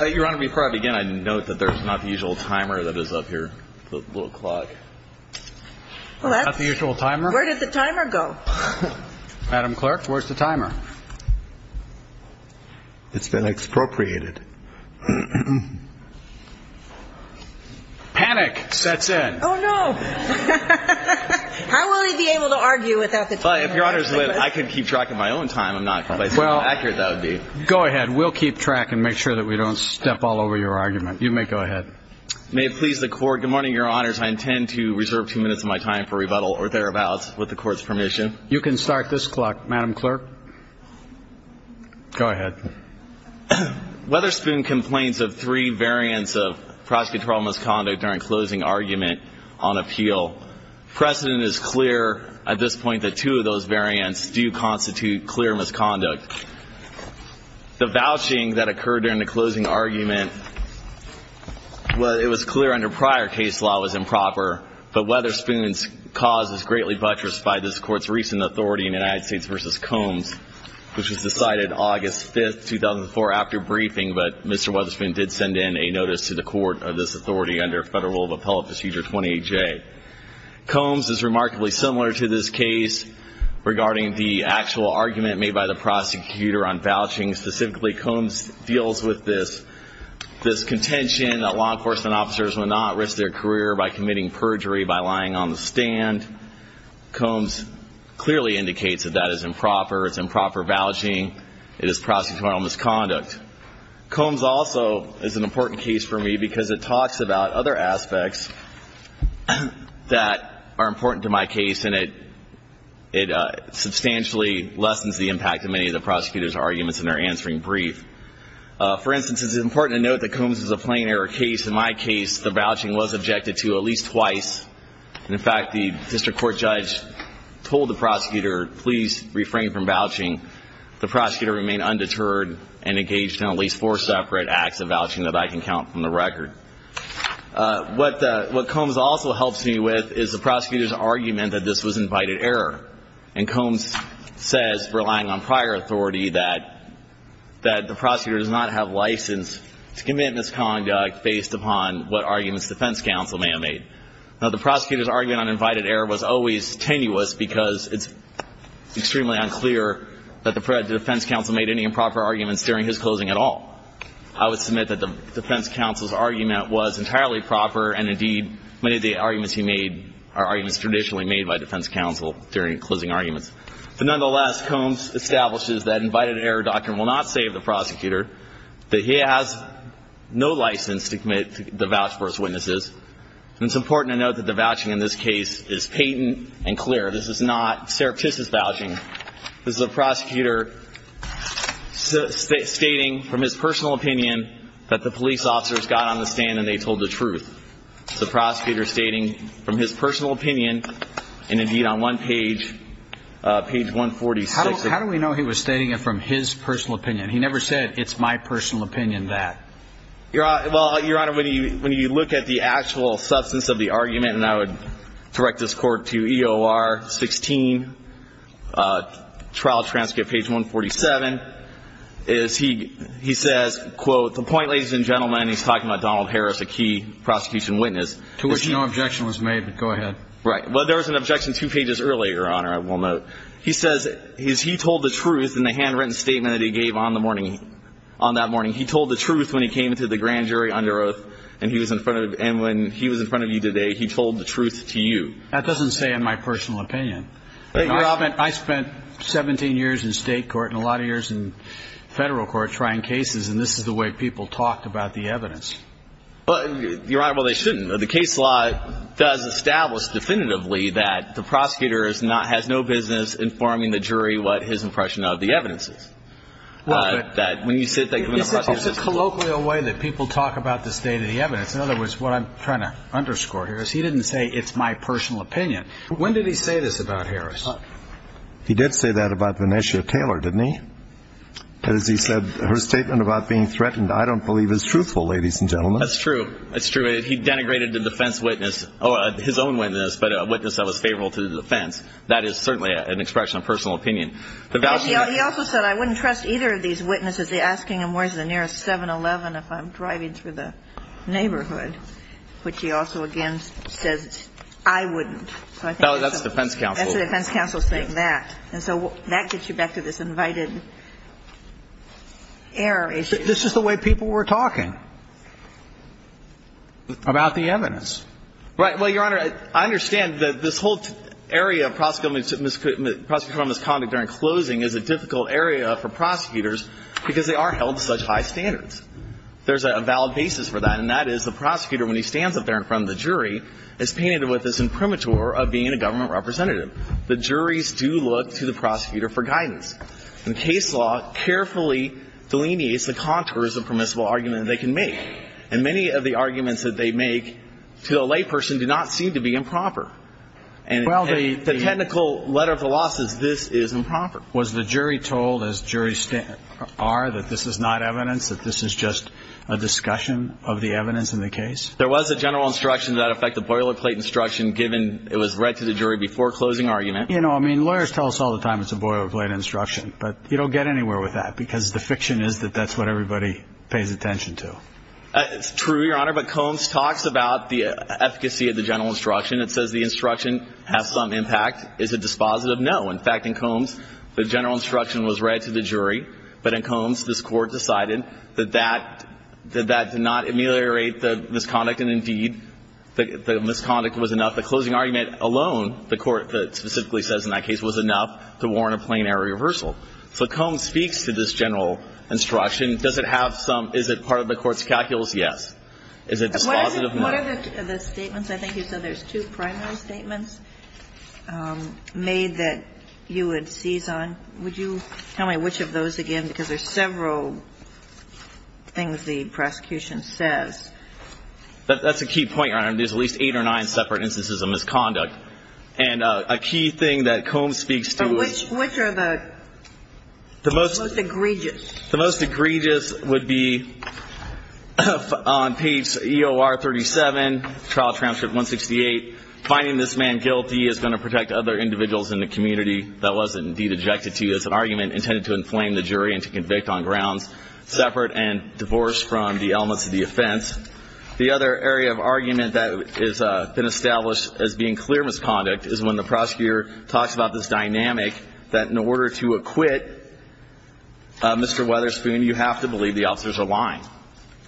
Your Honor, before I begin, I'd note that there's not the usual timer that is up here. The little clock. Not the usual timer? Where did the timer go? Madam Clerk, where's the timer? It's been expropriated. Panic sets in. Oh, no. How will he be able to argue without the timer? If Your Honor's willing, I could keep track of my own time. I'm not sure how accurate that would be. Go ahead. We'll keep track and make sure that we don't step all over your argument. You may go ahead. May it please the Court, good morning, Your Honors. I intend to reserve two minutes of my time for rebuttal, or thereabouts, with the Court's permission. You can start this clock, Madam Clerk. Go ahead. Weatherspoon complains of three variants of prosecutorial misconduct during closing argument on appeal. Precedent is clear at this point that two of those variants do constitute clear misconduct. The vouching that occurred during the closing argument, while it was clear under prior case law, was improper, but Weatherspoon's cause was greatly buttressed by this Court's recent authority in United States v. Combs, which was decided August 5, 2004, after briefing, but Mr. Weatherspoon did send in a notice to the Court of this authority under Federal Appellate Procedure 28J. Combs is remarkably similar to this case regarding the actual argument made by the prosecutor on vouching. Specifically, Combs deals with this contention that law enforcement officers would not risk their career by committing perjury by lying on the stand. Combs clearly indicates that that is improper. It's improper vouching. It is prosecutorial misconduct. Combs also is an important case for me because it talks about other aspects that are important to my case, and it substantially lessens the impact of many of the prosecutor's arguments in their answering brief. For instance, it's important to note that Combs is a plain error case. In my case, the vouching was objected to at least twice. In fact, the district court judge told the prosecutor, please refrain from vouching. The prosecutor remained undeterred and engaged in at least four separate acts of vouching that I can count from the record. What Combs also helps me with is the prosecutor's argument that this was invited error, and Combs says, relying on prior authority, that the prosecutor does not have license to commit misconduct based upon what arguments defense counsel may have made. Now, the prosecutor's argument on invited error was always tenuous because it's extremely unclear that the defense counsel made any improper arguments during his closing at all. I would submit that the defense counsel's argument was entirely proper, and indeed, many of the arguments he made are arguments traditionally made by defense counsel during closing arguments. But nonetheless, Combs establishes that invited error doctrine will not save the prosecutor, that he has no license to commit the vouch for his witnesses. And it's important to note that the vouching in this case is patent and clear. This is not Serapistis' vouching. This is a prosecutor stating from his personal opinion that the police officers got on the stand and they told the truth. It's a prosecutor stating from his personal opinion, and indeed, on one page, page 146. How do we know he was stating it from his personal opinion? He never said, it's my personal opinion that. Well, Your Honor, when you look at the actual substance of the argument, and I would direct this Court to EOR 16, trial transcript page 147, is he says, quote, the point, ladies and gentlemen, he's talking about Donald Harris, a key prosecution witness. To which no objection was made, but go ahead. Right. Well, there was an objection two pages earlier, Your Honor, I will note. He says he told the truth in the handwritten statement that he gave on the morning, on that morning. He told the truth when he came to the grand jury under oath, and he was in front of, and when he was in front of you today, he told the truth to you. That doesn't say in my personal opinion. I spent 17 years in state court and a lot of years in federal court trying cases, and this is the way people talked about the evidence. Your Honor, well, they shouldn't. The case law does establish definitively that the prosecutor has no business informing the jury what his impression of the evidence is. When you sit there. It's a colloquial way that people talk about the state of the evidence. In other words, what I'm trying to underscore here is he didn't say it's my personal opinion. When did he say this about Harris? He did say that about Vanessia Taylor, didn't he? As he said, her statement about being threatened I don't believe is truthful, ladies and gentlemen. That's true. That's true. He denigrated the defense witness, his own witness, but a witness that was favorable to the defense. That is certainly an expression of personal opinion. He also said I wouldn't trust either of these witnesses. They're asking him where's the nearest 7-Eleven if I'm driving through the neighborhood, which he also, again, says I wouldn't. That's the defense counsel. That's the defense counsel saying that. And so that gets you back to this invited error issue. This is the way people were talking about the evidence. Right. Well, Your Honor, I understand that this whole area of prosecutorial misconduct during closing is a difficult area for prosecutors because they are held to such high standards. There's a valid basis for that, and that is the prosecutor, when he stands up there in front of the jury, is painted with this imprimatur of being a government representative. The juries do look to the prosecutor for guidance. And case law carefully delineates the contours of permissible argument they can make. And many of the arguments that they make to the layperson do not seem to be improper. Well, the technical letter of the law says this is improper. Was the jury told, as juries are, that this is not evidence, that this is just a discussion of the evidence in the case? There was a general instruction to that effect, the boilerplate instruction, given it was read to the jury before closing argument. You know, I mean, lawyers tell us all the time it's a boilerplate instruction, but you don't get anywhere with that because the fiction is that that's what everybody pays attention to. It's true, Your Honor, but Combs talks about the efficacy of the general instruction. It says the instruction has some impact. Is it dispositive? No. In fact, in Combs, the general instruction was read to the jury, but in Combs, this Court decided that that did not ameliorate the misconduct and, indeed, the misconduct was enough. The closing argument alone, the Court specifically says in that case, was enough to warrant a plenary reversal. So Combs speaks to this general instruction. Does it have some – is it part of the Court's calculus? Yes. Is it dispositive? What are the statements? I think you said there's two primary statements made that you would seize on. Would you tell me which of those again? Because there's several things the prosecution says. That's a key point, Your Honor. There's at least eight or nine separate instances of misconduct. And a key thing that Combs speaks to is – Which are the most egregious? The most egregious would be on page EOR 37, trial transcript 168, finding this man guilty is going to protect other individuals in the community. That was, indeed, objected to. It's an argument intended to inflame the jury and to convict on grounds separate and divorced from the elements of the offense. The other area of argument that has been established as being clear misconduct is when the prosecutor talks about this dynamic that in order to acquit Mr. Weatherspoon, you have to believe the officers are lying.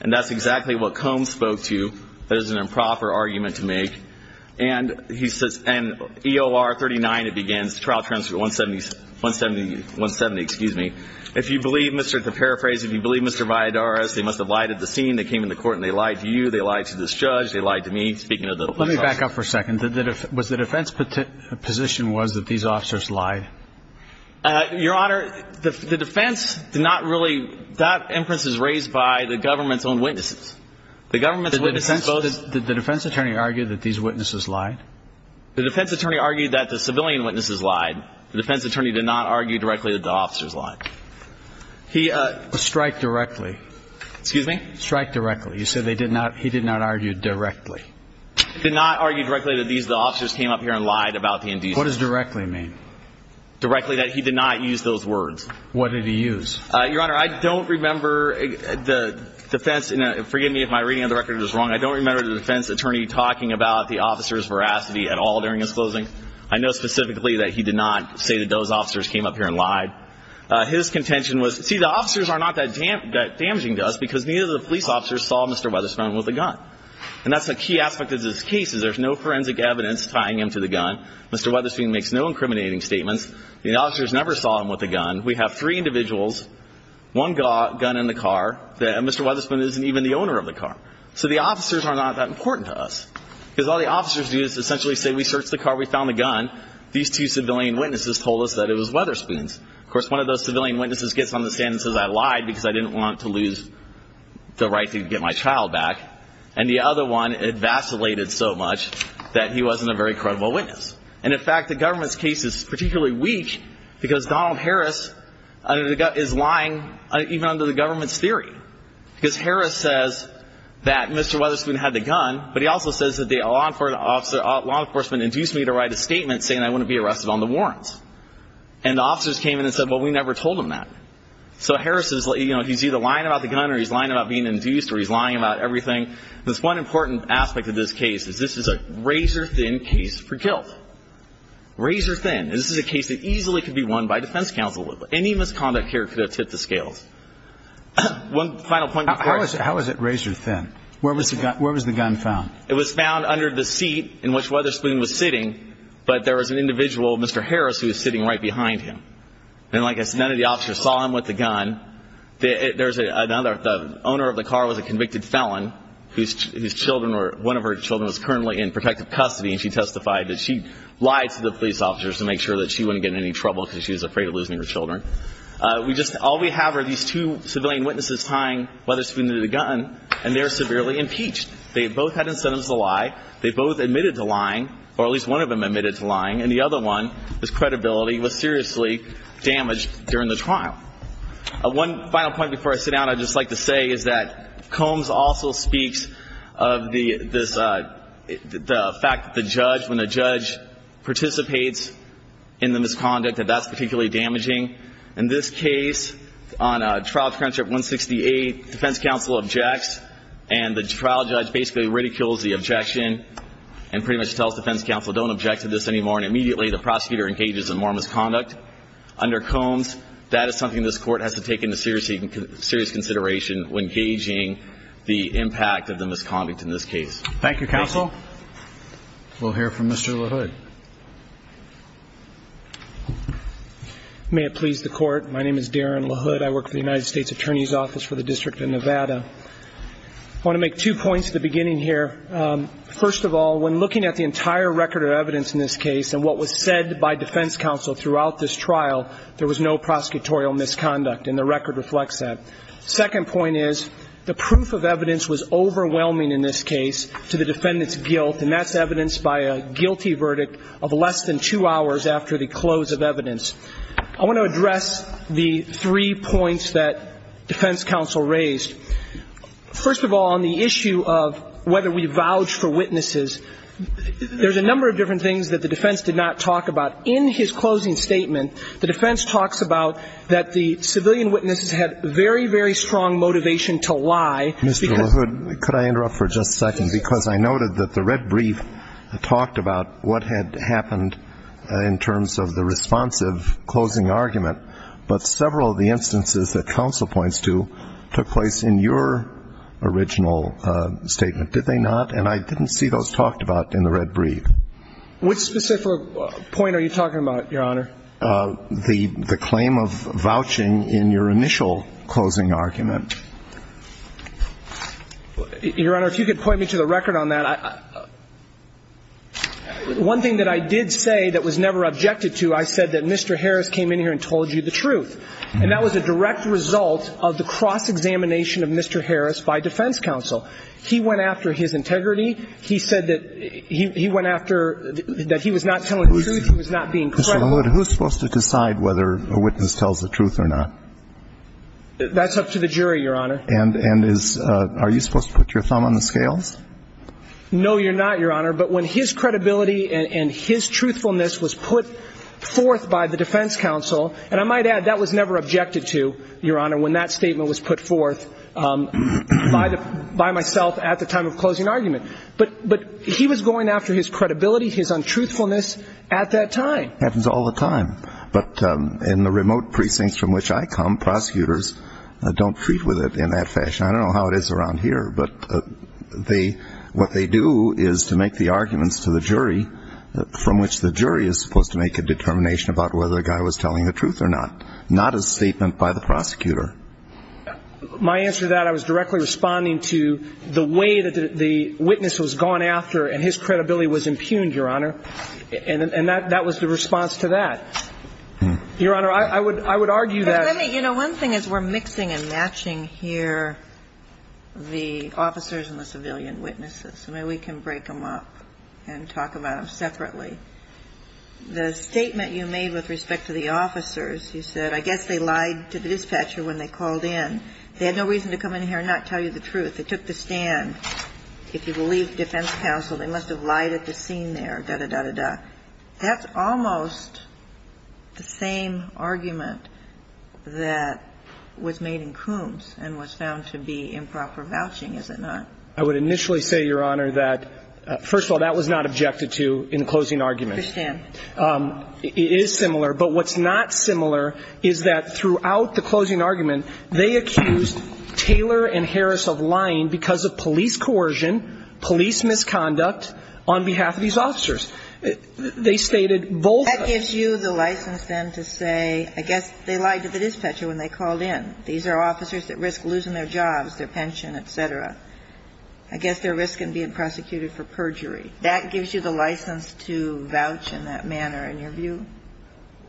And that's exactly what Combs spoke to. That is an improper argument to make. And he says – and EOR 39, it begins, trial transcript 170, excuse me. If you believe Mr. – to paraphrase, if you believe Mr. Valladares, they must have lied at the scene. They came into court and they lied to you. They lied to this judge. They lied to me. Speaking of the – Let me back up for a second. Was the defense position was that these officers lied? Your Honor, the defense did not really – that inference is raised by the government's own witnesses. The government's own witnesses voted – Did the defense attorney argue that these witnesses lied? The defense attorney argued that the civilian witnesses lied. The defense attorney did not argue directly that the officers lied. He – Strike directly. Excuse me? Strike directly. You said they did not – he did not argue directly. He did not argue directly that these officers came up here and lied about the indecency. What does directly mean? Directly that he did not use those words. What did he use? Your Honor, I don't remember the defense – forgive me if my reading of the record is wrong. I don't remember the defense attorney talking about the officers' veracity at all during his closing. I know specifically that he did not say that those officers came up here and lied. His contention was – see, the officers are not that damaging to us because neither of the police officers saw Mr. Weatherspoon with a gun. And that's a key aspect of this case is there's no forensic evidence tying him to the gun. Mr. Weatherspoon makes no incriminating statements. The officers never saw him with a gun. We have three individuals, one gun in the car. Mr. Weatherspoon isn't even the owner of the car. So the officers are not that important to us because all the officers do is essentially say we searched the car, we found the gun. These two civilian witnesses told us that it was Weatherspoon's. Of course, one of those civilian witnesses gets on the stand and says I lied because I didn't want to lose the right to get my child back. And the other one vacillated so much that he wasn't a very credible witness. And, in fact, the government's case is particularly weak because Donald Harris is lying even under the government's theory because Harris says that Mr. Weatherspoon had the gun, but he also says that the law enforcement induced me to write a statement saying I wouldn't be arrested on the warrants. And the officers came in and said, well, we never told him that. So Harris is, you know, he's either lying about the gun or he's lying about being induced or he's lying about everything. This one important aspect of this case is this is a razor-thin case for guilt. Razor-thin. This is a case that easily could be won by defense counsel. Any misconduct here could have tipped the scales. One final point. How is it razor-thin? Where was the gun found? It was found under the seat in which Weatherspoon was sitting, but there was an individual, Mr. Harris, who was sitting right behind him. And, like I said, none of the officers saw him with the gun. The owner of the car was a convicted felon. One of her children was currently in protective custody, and she testified that she lied to the police officers to make sure that she wouldn't get in any trouble because she was afraid of losing her children. All we have are these two civilian witnesses tying Weatherspoon to the gun, and they're severely impeached. They both had incentives to lie. They both admitted to lying, or at least one of them admitted to lying, and the other one, his credibility, was seriously damaged during the trial. One final point before I sit down, I'd just like to say, is that Combs also speaks of the fact that the judge, when the judge participates in the misconduct, that that's particularly damaging. In this case, on trial transcript 168, defense counsel objects, and the trial judge basically ridicules the objection and pretty much tells defense counsel, don't object to this anymore, and immediately the prosecutor engages in more misconduct. Under Combs, that is something this court has to take into serious consideration when gauging the impact of the misconduct in this case. Thank you, counsel. We'll hear from Mr. LaHood. May it please the Court, my name is Darren LaHood. I work for the United States Attorney's Office for the District of Nevada. I want to make two points at the beginning here. First of all, when looking at the entire record of evidence in this case and what was said by defense counsel throughout this trial, there was no prosecutorial misconduct, and the record reflects that. Second point is, the proof of evidence was overwhelming in this case to the defendant's guilt, and that's evidenced by a guilty verdict of less than two hours after the close of evidence. I want to address the three points that defense counsel raised. First of all, on the issue of whether we vouch for witnesses, there's a number of different things that the defense did not talk about. In his closing statement, the defense talks about that the civilian witnesses had very, very strong motivation to lie. Mr. LaHood, could I interrupt for just a second? Because I noted that the red brief talked about what had happened in terms of the responsive closing argument, but several of the instances that counsel points to took place in your original statement, did they not? And I didn't see those talked about in the red brief. Which specific point are you talking about, Your Honor? The claim of vouching in your initial closing argument. Your Honor, if you could point me to the record on that. One thing that I did say that was never objected to, I said that Mr. Harris came in here and told you the truth. And that was a direct result of the cross-examination of Mr. Harris by defense counsel. He went after his integrity. He said that he went after, that he was not telling the truth, he was not being credible. Mr. LaHood, who's supposed to decide whether a witness tells the truth or not? That's up to the jury, Your Honor. And is, are you supposed to put your thumb on the scales? No, you're not, Your Honor. But when his credibility and his truthfulness was put forth by the defense counsel, and I might add that was never objected to, Your Honor, when that statement was put forth by myself at the time of closing argument. But he was going after his credibility, his untruthfulness at that time. Happens all the time. But in the remote precincts from which I come, prosecutors don't treat with it in that fashion. I don't know how it is around here, but they, what they do is to make the arguments to the jury from which the jury is supposed to make a determination about whether a guy was telling the truth or not, not a statement by the prosecutor. My answer to that, I was directly responding to the way that the witness was gone after and his credibility was impugned, Your Honor. And that was the response to that. Your Honor, I would argue that. Let me, you know, one thing is we're mixing and matching here the officers and the civilian witnesses. Maybe we can break them up and talk about them separately. The statement you made with respect to the officers, you said, I guess they lied to the dispatcher when they called in. They had no reason to come in here and not tell you the truth. They took the stand. If you believe defense counsel, they must have lied at the scene there, da-da-da-da-da. That's almost the same argument that was made in Coombs and was found to be improper vouching, is it not? I would initially say, Your Honor, that, first of all, that was not objected to in the closing argument. I understand. It is similar. But what's not similar is that throughout the closing argument, they accused Taylor and Harris of lying because of police coercion, police misconduct on behalf of these officers. They stated both of them. That gives you the license then to say, I guess they lied to the dispatcher when they called in. These are officers that risk losing their jobs, their pension, et cetera. I guess they're risking being prosecuted for perjury. That gives you the license to vouch in that manner in your view?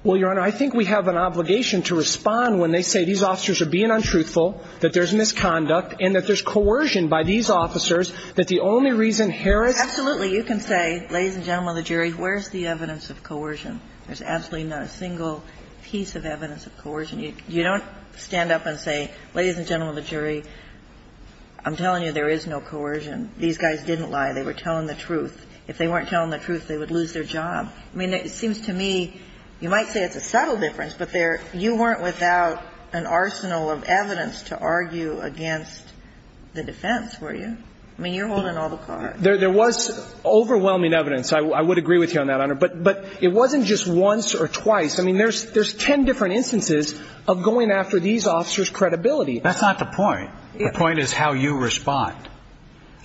Well, Your Honor, I think we have an obligation to respond when they say these officers are being untruthful, that there's misconduct, and that there's coercion by these officers, that the only reason Harris ---- Absolutely. You can say, ladies and gentlemen of the jury, where's the evidence of coercion? There's absolutely not a single piece of evidence of coercion. You don't stand up and say, ladies and gentlemen of the jury, I'm telling you there is no coercion. These guys didn't lie. They were telling the truth. If they weren't telling the truth, they would lose their job. I mean, it seems to me you might say it's a subtle difference, but there you weren't without an arsenal of evidence to argue against the defense, were you? I mean, you're holding all the cards. There was overwhelming evidence. I would agree with you on that, Your Honor. But it wasn't just once or twice. I mean, there's ten different instances of going after these officers' credibility. That's not the point. The point is how you respond.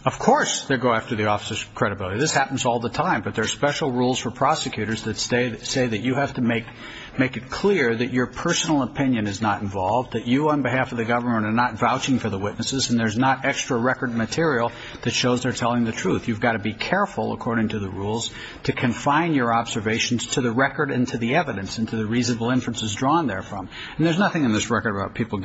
Of course they go after the officers' credibility. This happens all the time. But there are special rules for prosecutors that say that you have to make it clear that your personal opinion is not involved, that you on behalf of the government are not vouching for the witnesses, and there's not extra record material that shows they're telling the truth. You've got to be careful, according to the rules, to confine your observations to the record and to the evidence and to the reasonable inferences drawn therefrom. And there's nothing in this record about people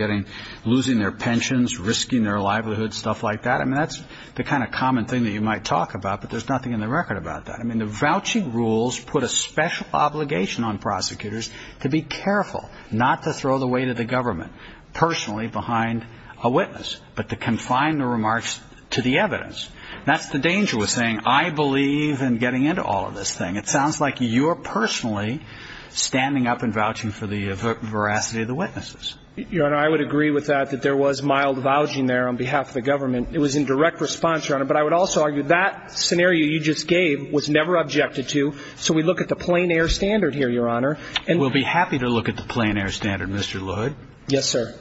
losing their pensions, risking their livelihoods, stuff like that. I mean, that's the kind of common thing that you might talk about, but there's nothing in the record about that. I mean, the vouching rules put a special obligation on prosecutors to be careful not to throw the weight of the government personally behind a witness, but to confine the remarks to the evidence. That's the dangerous thing. I believe in getting into all of this thing. It sounds like you're personally standing up and vouching for the veracity of the witnesses. Your Honor, I would agree with that, that there was mild vouching there on behalf of the government. It was in direct response, Your Honor. But I would also argue that scenario you just gave was never objected to. So we look at the plain air standard here, Your Honor. We'll be happy to look at the plain air standard, Mr. Lloyd. Yes, sir.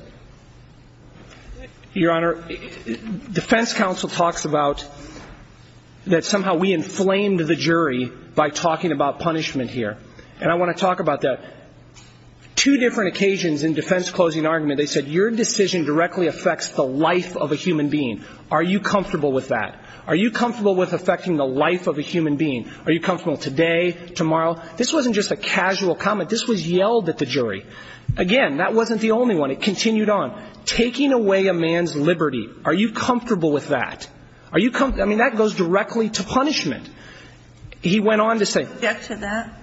Your Honor, defense counsel talks about that somehow we inflamed the jury by talking about punishment here. And I want to talk about that. Two different occasions in defense closing argument, they said, your decision directly affects the life of a human being. Are you comfortable with that? Are you comfortable with affecting the life of a human being? Are you comfortable today, tomorrow? This wasn't just a casual comment. This was yelled at the jury. Again, that wasn't the only one. It continued on. Taking away a man's liberty, are you comfortable with that? Are you comfortable? I mean, that goes directly to punishment. He went on to say ---- Did you object to that?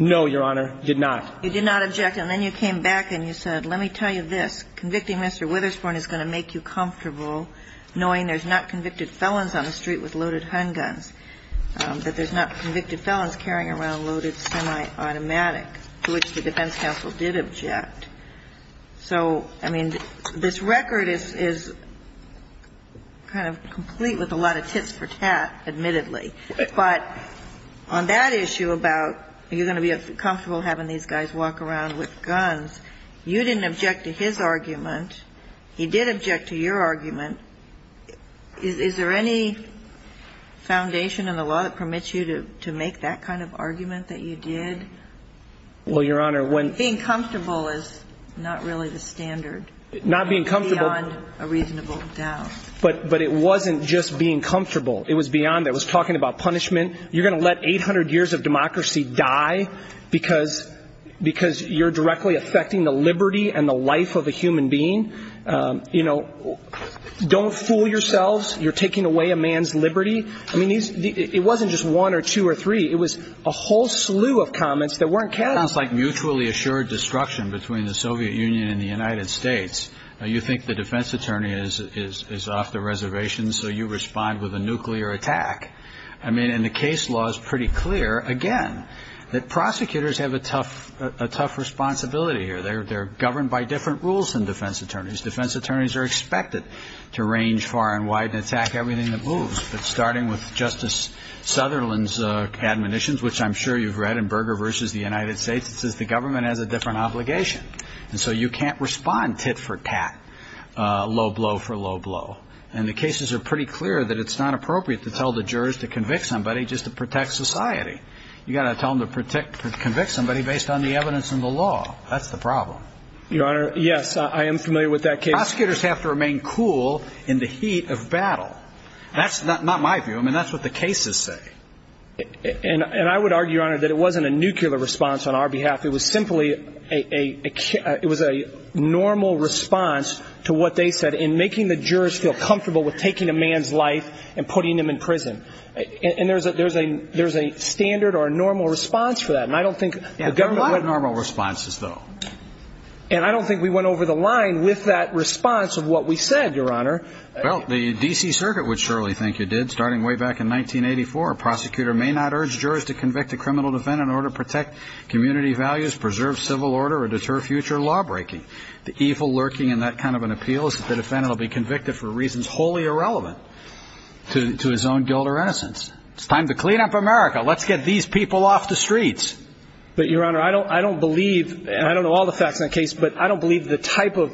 No, Your Honor, did not. You did not object. And then you came back and you said, let me tell you this, convicting Mr. Witherspoon is going to make you comfortable knowing there's not convicted felons on the street with loaded handguns, that there's not convicted felons carrying around loaded semiautomatic to which the defense counsel did object. So, I mean, this record is kind of complete with a lot of tits for tat, admittedly. But on that issue about are you going to be comfortable having these guys walk around with guns, you didn't object to his argument. He did object to your argument. Is there any foundation in the law that permits you to make that kind of argument that you did? Well, Your Honor, when ---- Being comfortable is not really the standard. Not being comfortable ---- Beyond a reasonable doubt. But it wasn't just being comfortable. It was beyond that. It was talking about punishment. You're going to let 800 years of democracy die because you're directly affecting the liberty and the life of a human being? You know, don't fool yourselves. You're taking away a man's liberty. I mean, it wasn't just one or two or three. It was a whole slew of comments that weren't carried. It sounds like mutually assured destruction between the Soviet Union and the United States. You think the defense attorney is off the reservation, so you respond with a nuclear attack. I mean, and the case law is pretty clear, again, that prosecutors have a tough responsibility here. They're governed by different rules than defense attorneys. Defense attorneys are expected to range far and wide and attack everything that moves. But starting with Justice Sutherland's admonitions, which I'm sure you've read in Berger v. The United States, it says the government has a different obligation. And so you can't respond tit for tat, low blow for low blow. And the cases are pretty clear that it's not appropriate to tell the jurors to convict somebody just to protect society. You've got to tell them to convict somebody based on the evidence in the law. That's the problem. Your Honor, yes, I am familiar with that case. Prosecutors have to remain cool in the heat of battle. That's not my view. I mean, that's what the cases say. And I would argue, Your Honor, that it wasn't a nuclear response on our behalf. It was simply a normal response to what they said in making the jurors feel comfortable with taking a man's life and putting him in prison. And there's a standard or a normal response for that. And I don't think the government would. There are a lot of normal responses, though. And I don't think we went over the line with that response of what we said, Your Honor. Well, the D.C. Circuit would surely think you did. Starting way back in 1984, a prosecutor may not urge jurors to convict a criminal defendant in order to protect community values, preserve civil order, or deter future lawbreaking. The evil lurking in that kind of an appeal is that the defendant will be convicted for reasons wholly irrelevant to his own guilt or innocence. It's time to clean up America. Let's get these people off the streets. But, Your Honor, I don't believe, and I don't know all the facts in that case, but I don't believe the type of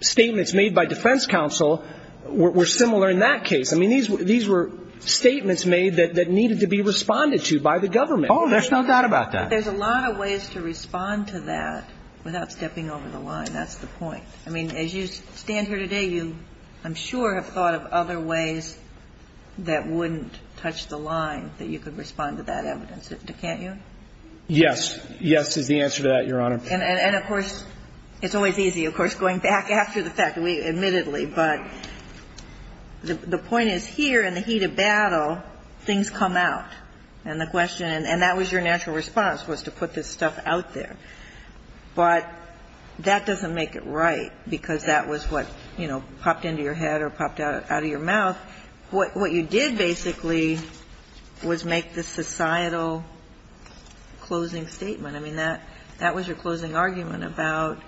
statements made by defense counsel were similar in that case. I mean, these were statements made that needed to be responded to by the government. Oh, there's no doubt about that. There's a lot of ways to respond to that without stepping over the line. That's the point. I mean, as you stand here today, you, I'm sure, have thought of other ways that wouldn't touch the line, that you could respond to that evidence. Can't you? Yes. Yes is the answer to that, Your Honor. And, of course, it's always easy, of course, going back after the fact, admittedly. But the point is, here in the heat of battle, things come out. And the question, and that was your natural response, was to put this stuff out there. But that doesn't make it right, because that was what, you know, popped into your head or popped out of your mouth. What you did, basically, was make the societal closing statement. I mean, that was your closing argument about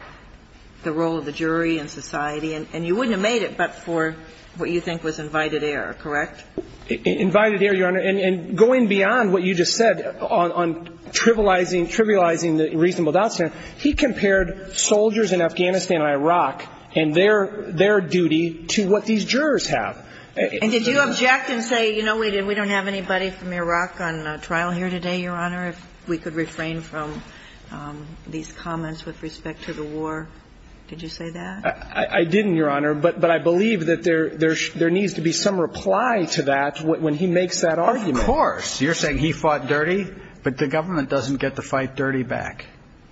the role of the jury in society. And you wouldn't have made it but for what you think was invited error, correct? Invited error, Your Honor. And going beyond what you just said on trivializing the reasonable doubt scenario, he compared soldiers in Afghanistan and Iraq and their duty to what these jurors have. And did you object and say, you know, we don't have anybody from Iraq on trial here today, Your Honor, if we could refrain from these comments with respect to the war? Did you say that? I didn't, Your Honor. But I believe that there needs to be some reply to that when he makes that argument. Of course. You're saying he fought dirty, but the government doesn't get to fight dirty back.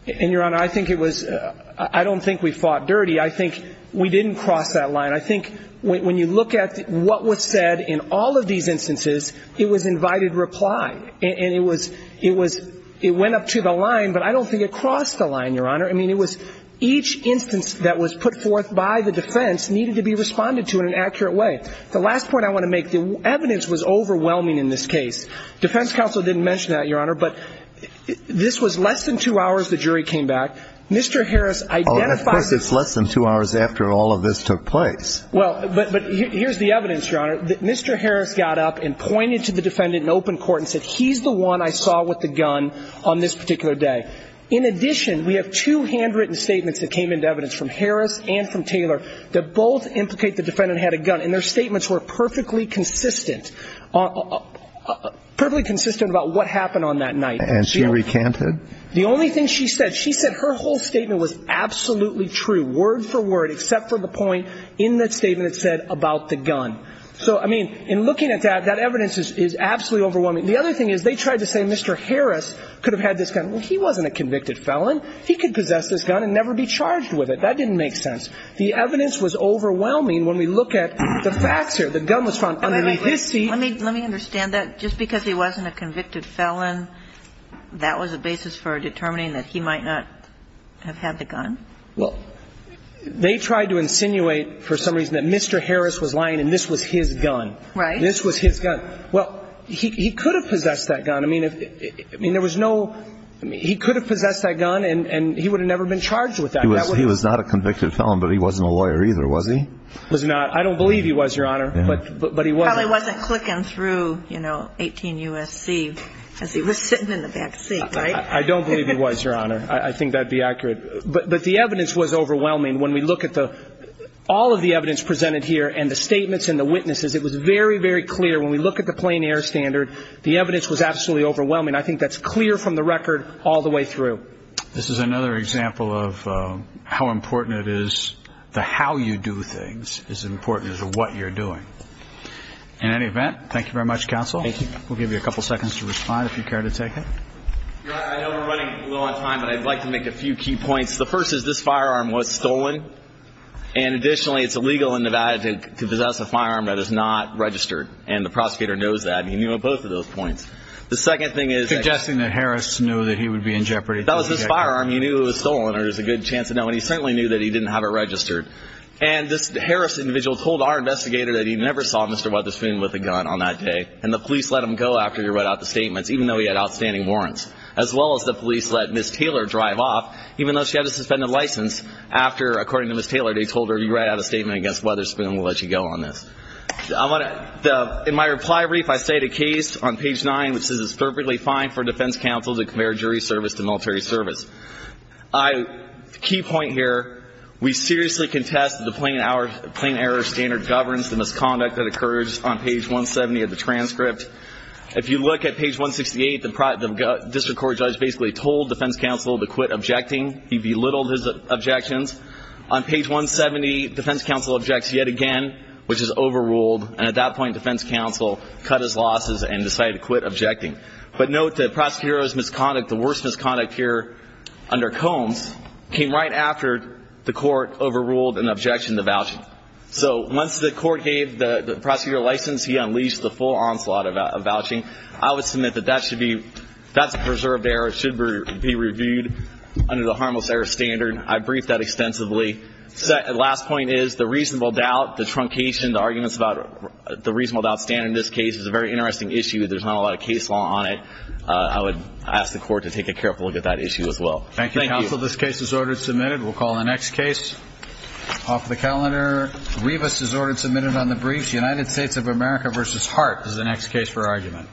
And, Your Honor, I think it was ‑‑ I don't think we fought dirty. I think we didn't cross that line. I think when you look at what was said in all of these instances, it was invited reply. And it was ‑‑ it went up to the line, but I don't think it crossed the line, Your Honor. I mean, it was each instance that was put forth by the defense needed to be responded to in an accurate way. The last point I want to make, the evidence was overwhelming in this case. Defense counsel didn't mention that, Your Honor, but this was less than two hours the jury came back. Mr. Harris identified ‑‑ Of course, it's less than two hours after all of this took place. Well, but here's the evidence, Your Honor. Mr. Harris got up and pointed to the defendant in open court and said, he's the one I saw with the gun on this particular day. In addition, we have two handwritten statements that came into evidence from Harris and from Taylor that both implicate the defendant had a gun, and their statements were perfectly consistent. Perfectly consistent about what happened on that night. And she recanted? The only thing she said, she said her whole statement was absolutely true, word for word, except for the point in that statement that said about the gun. So, I mean, in looking at that, that evidence is absolutely overwhelming. The other thing is they tried to say Mr. Harris could have had this gun. Well, he wasn't a convicted felon. He could possess this gun and never be charged with it. That didn't make sense. The evidence was overwhelming when we look at the facts here. The gun was found under his seat. Let me understand that. Just because he wasn't a convicted felon, that was a basis for determining that he might not have had the gun? Well, they tried to insinuate for some reason that Mr. Harris was lying and this was his gun. Right. This was his gun. Well, he could have possessed that gun. I mean, there was no – he could have possessed that gun and he would have never been charged with that. He was not a convicted felon, but he wasn't a lawyer either, was he? Was not. I don't believe he was, Your Honor, but he was. Well, he wasn't clicking through, you know, 18 U.S.C. as he was sitting in the back seat, right? I don't believe he was, Your Honor. I think that would be accurate. But the evidence was overwhelming. When we look at all of the evidence presented here and the statements and the witnesses, it was very, very clear when we look at the plain air standard, the evidence was absolutely overwhelming. I think that's clear from the record all the way through. This is another example of how important it is the how you do things is as important as what you're doing. In any event, thank you very much, counsel. Thank you. We'll give you a couple seconds to respond if you care to take it. Your Honor, I know we're running a little out of time, but I'd like to make a few key points. The first is this firearm was stolen, and additionally, it's illegal in Nevada to possess a firearm that is not registered, and the prosecutor knows that, and he knew on both of those points. The second thing is – Suggesting that Harris knew that he would be in jeopardy. That was his firearm. He knew it was stolen, or there's a good chance to know, and he certainly knew that he didn't have it registered. And this Harris individual told our investigator that he never saw Mr. Weatherspoon with a gun on that day, and the police let him go after he read out the statements, even though he had outstanding warrants, as well as the police let Ms. Taylor drive off, even though she had a suspended license, after, according to Ms. Taylor, they told her, if you write out a statement against Weatherspoon, we'll let you go on this. In my reply brief, I state a case on page 9 which says it's perfectly fine for a defense counsel to compare jury service to military service. The key point here, we seriously contest the plain error standard governance, the misconduct that occurs on page 170 of the transcript. If you look at page 168, the district court judge basically told defense counsel to quit objecting. He belittled his objections. On page 170, defense counsel objects yet again, which is overruled, and at that point defense counsel cut his losses and decided to quit objecting. But note that prosecutor's misconduct, the worst misconduct here under Combs, came right after the court overruled an objection to vouching. So once the court gave the prosecutor a license, he unleashed the full onslaught of vouching. I would submit that that's a preserved error. It should be reviewed under the harmless error standard. I briefed that extensively. The last point is the reasonable doubt, the truncation, the arguments about the reasonable doubt standard in this case is a very interesting issue. There's not a lot of case law on it. I would ask the court to take a careful look at that issue as well. Thank you, counsel. This case is ordered submitted. We'll call the next case off the calendar. Rivas is ordered submitted on the briefs. United States of America v. Hart is the next case for argument.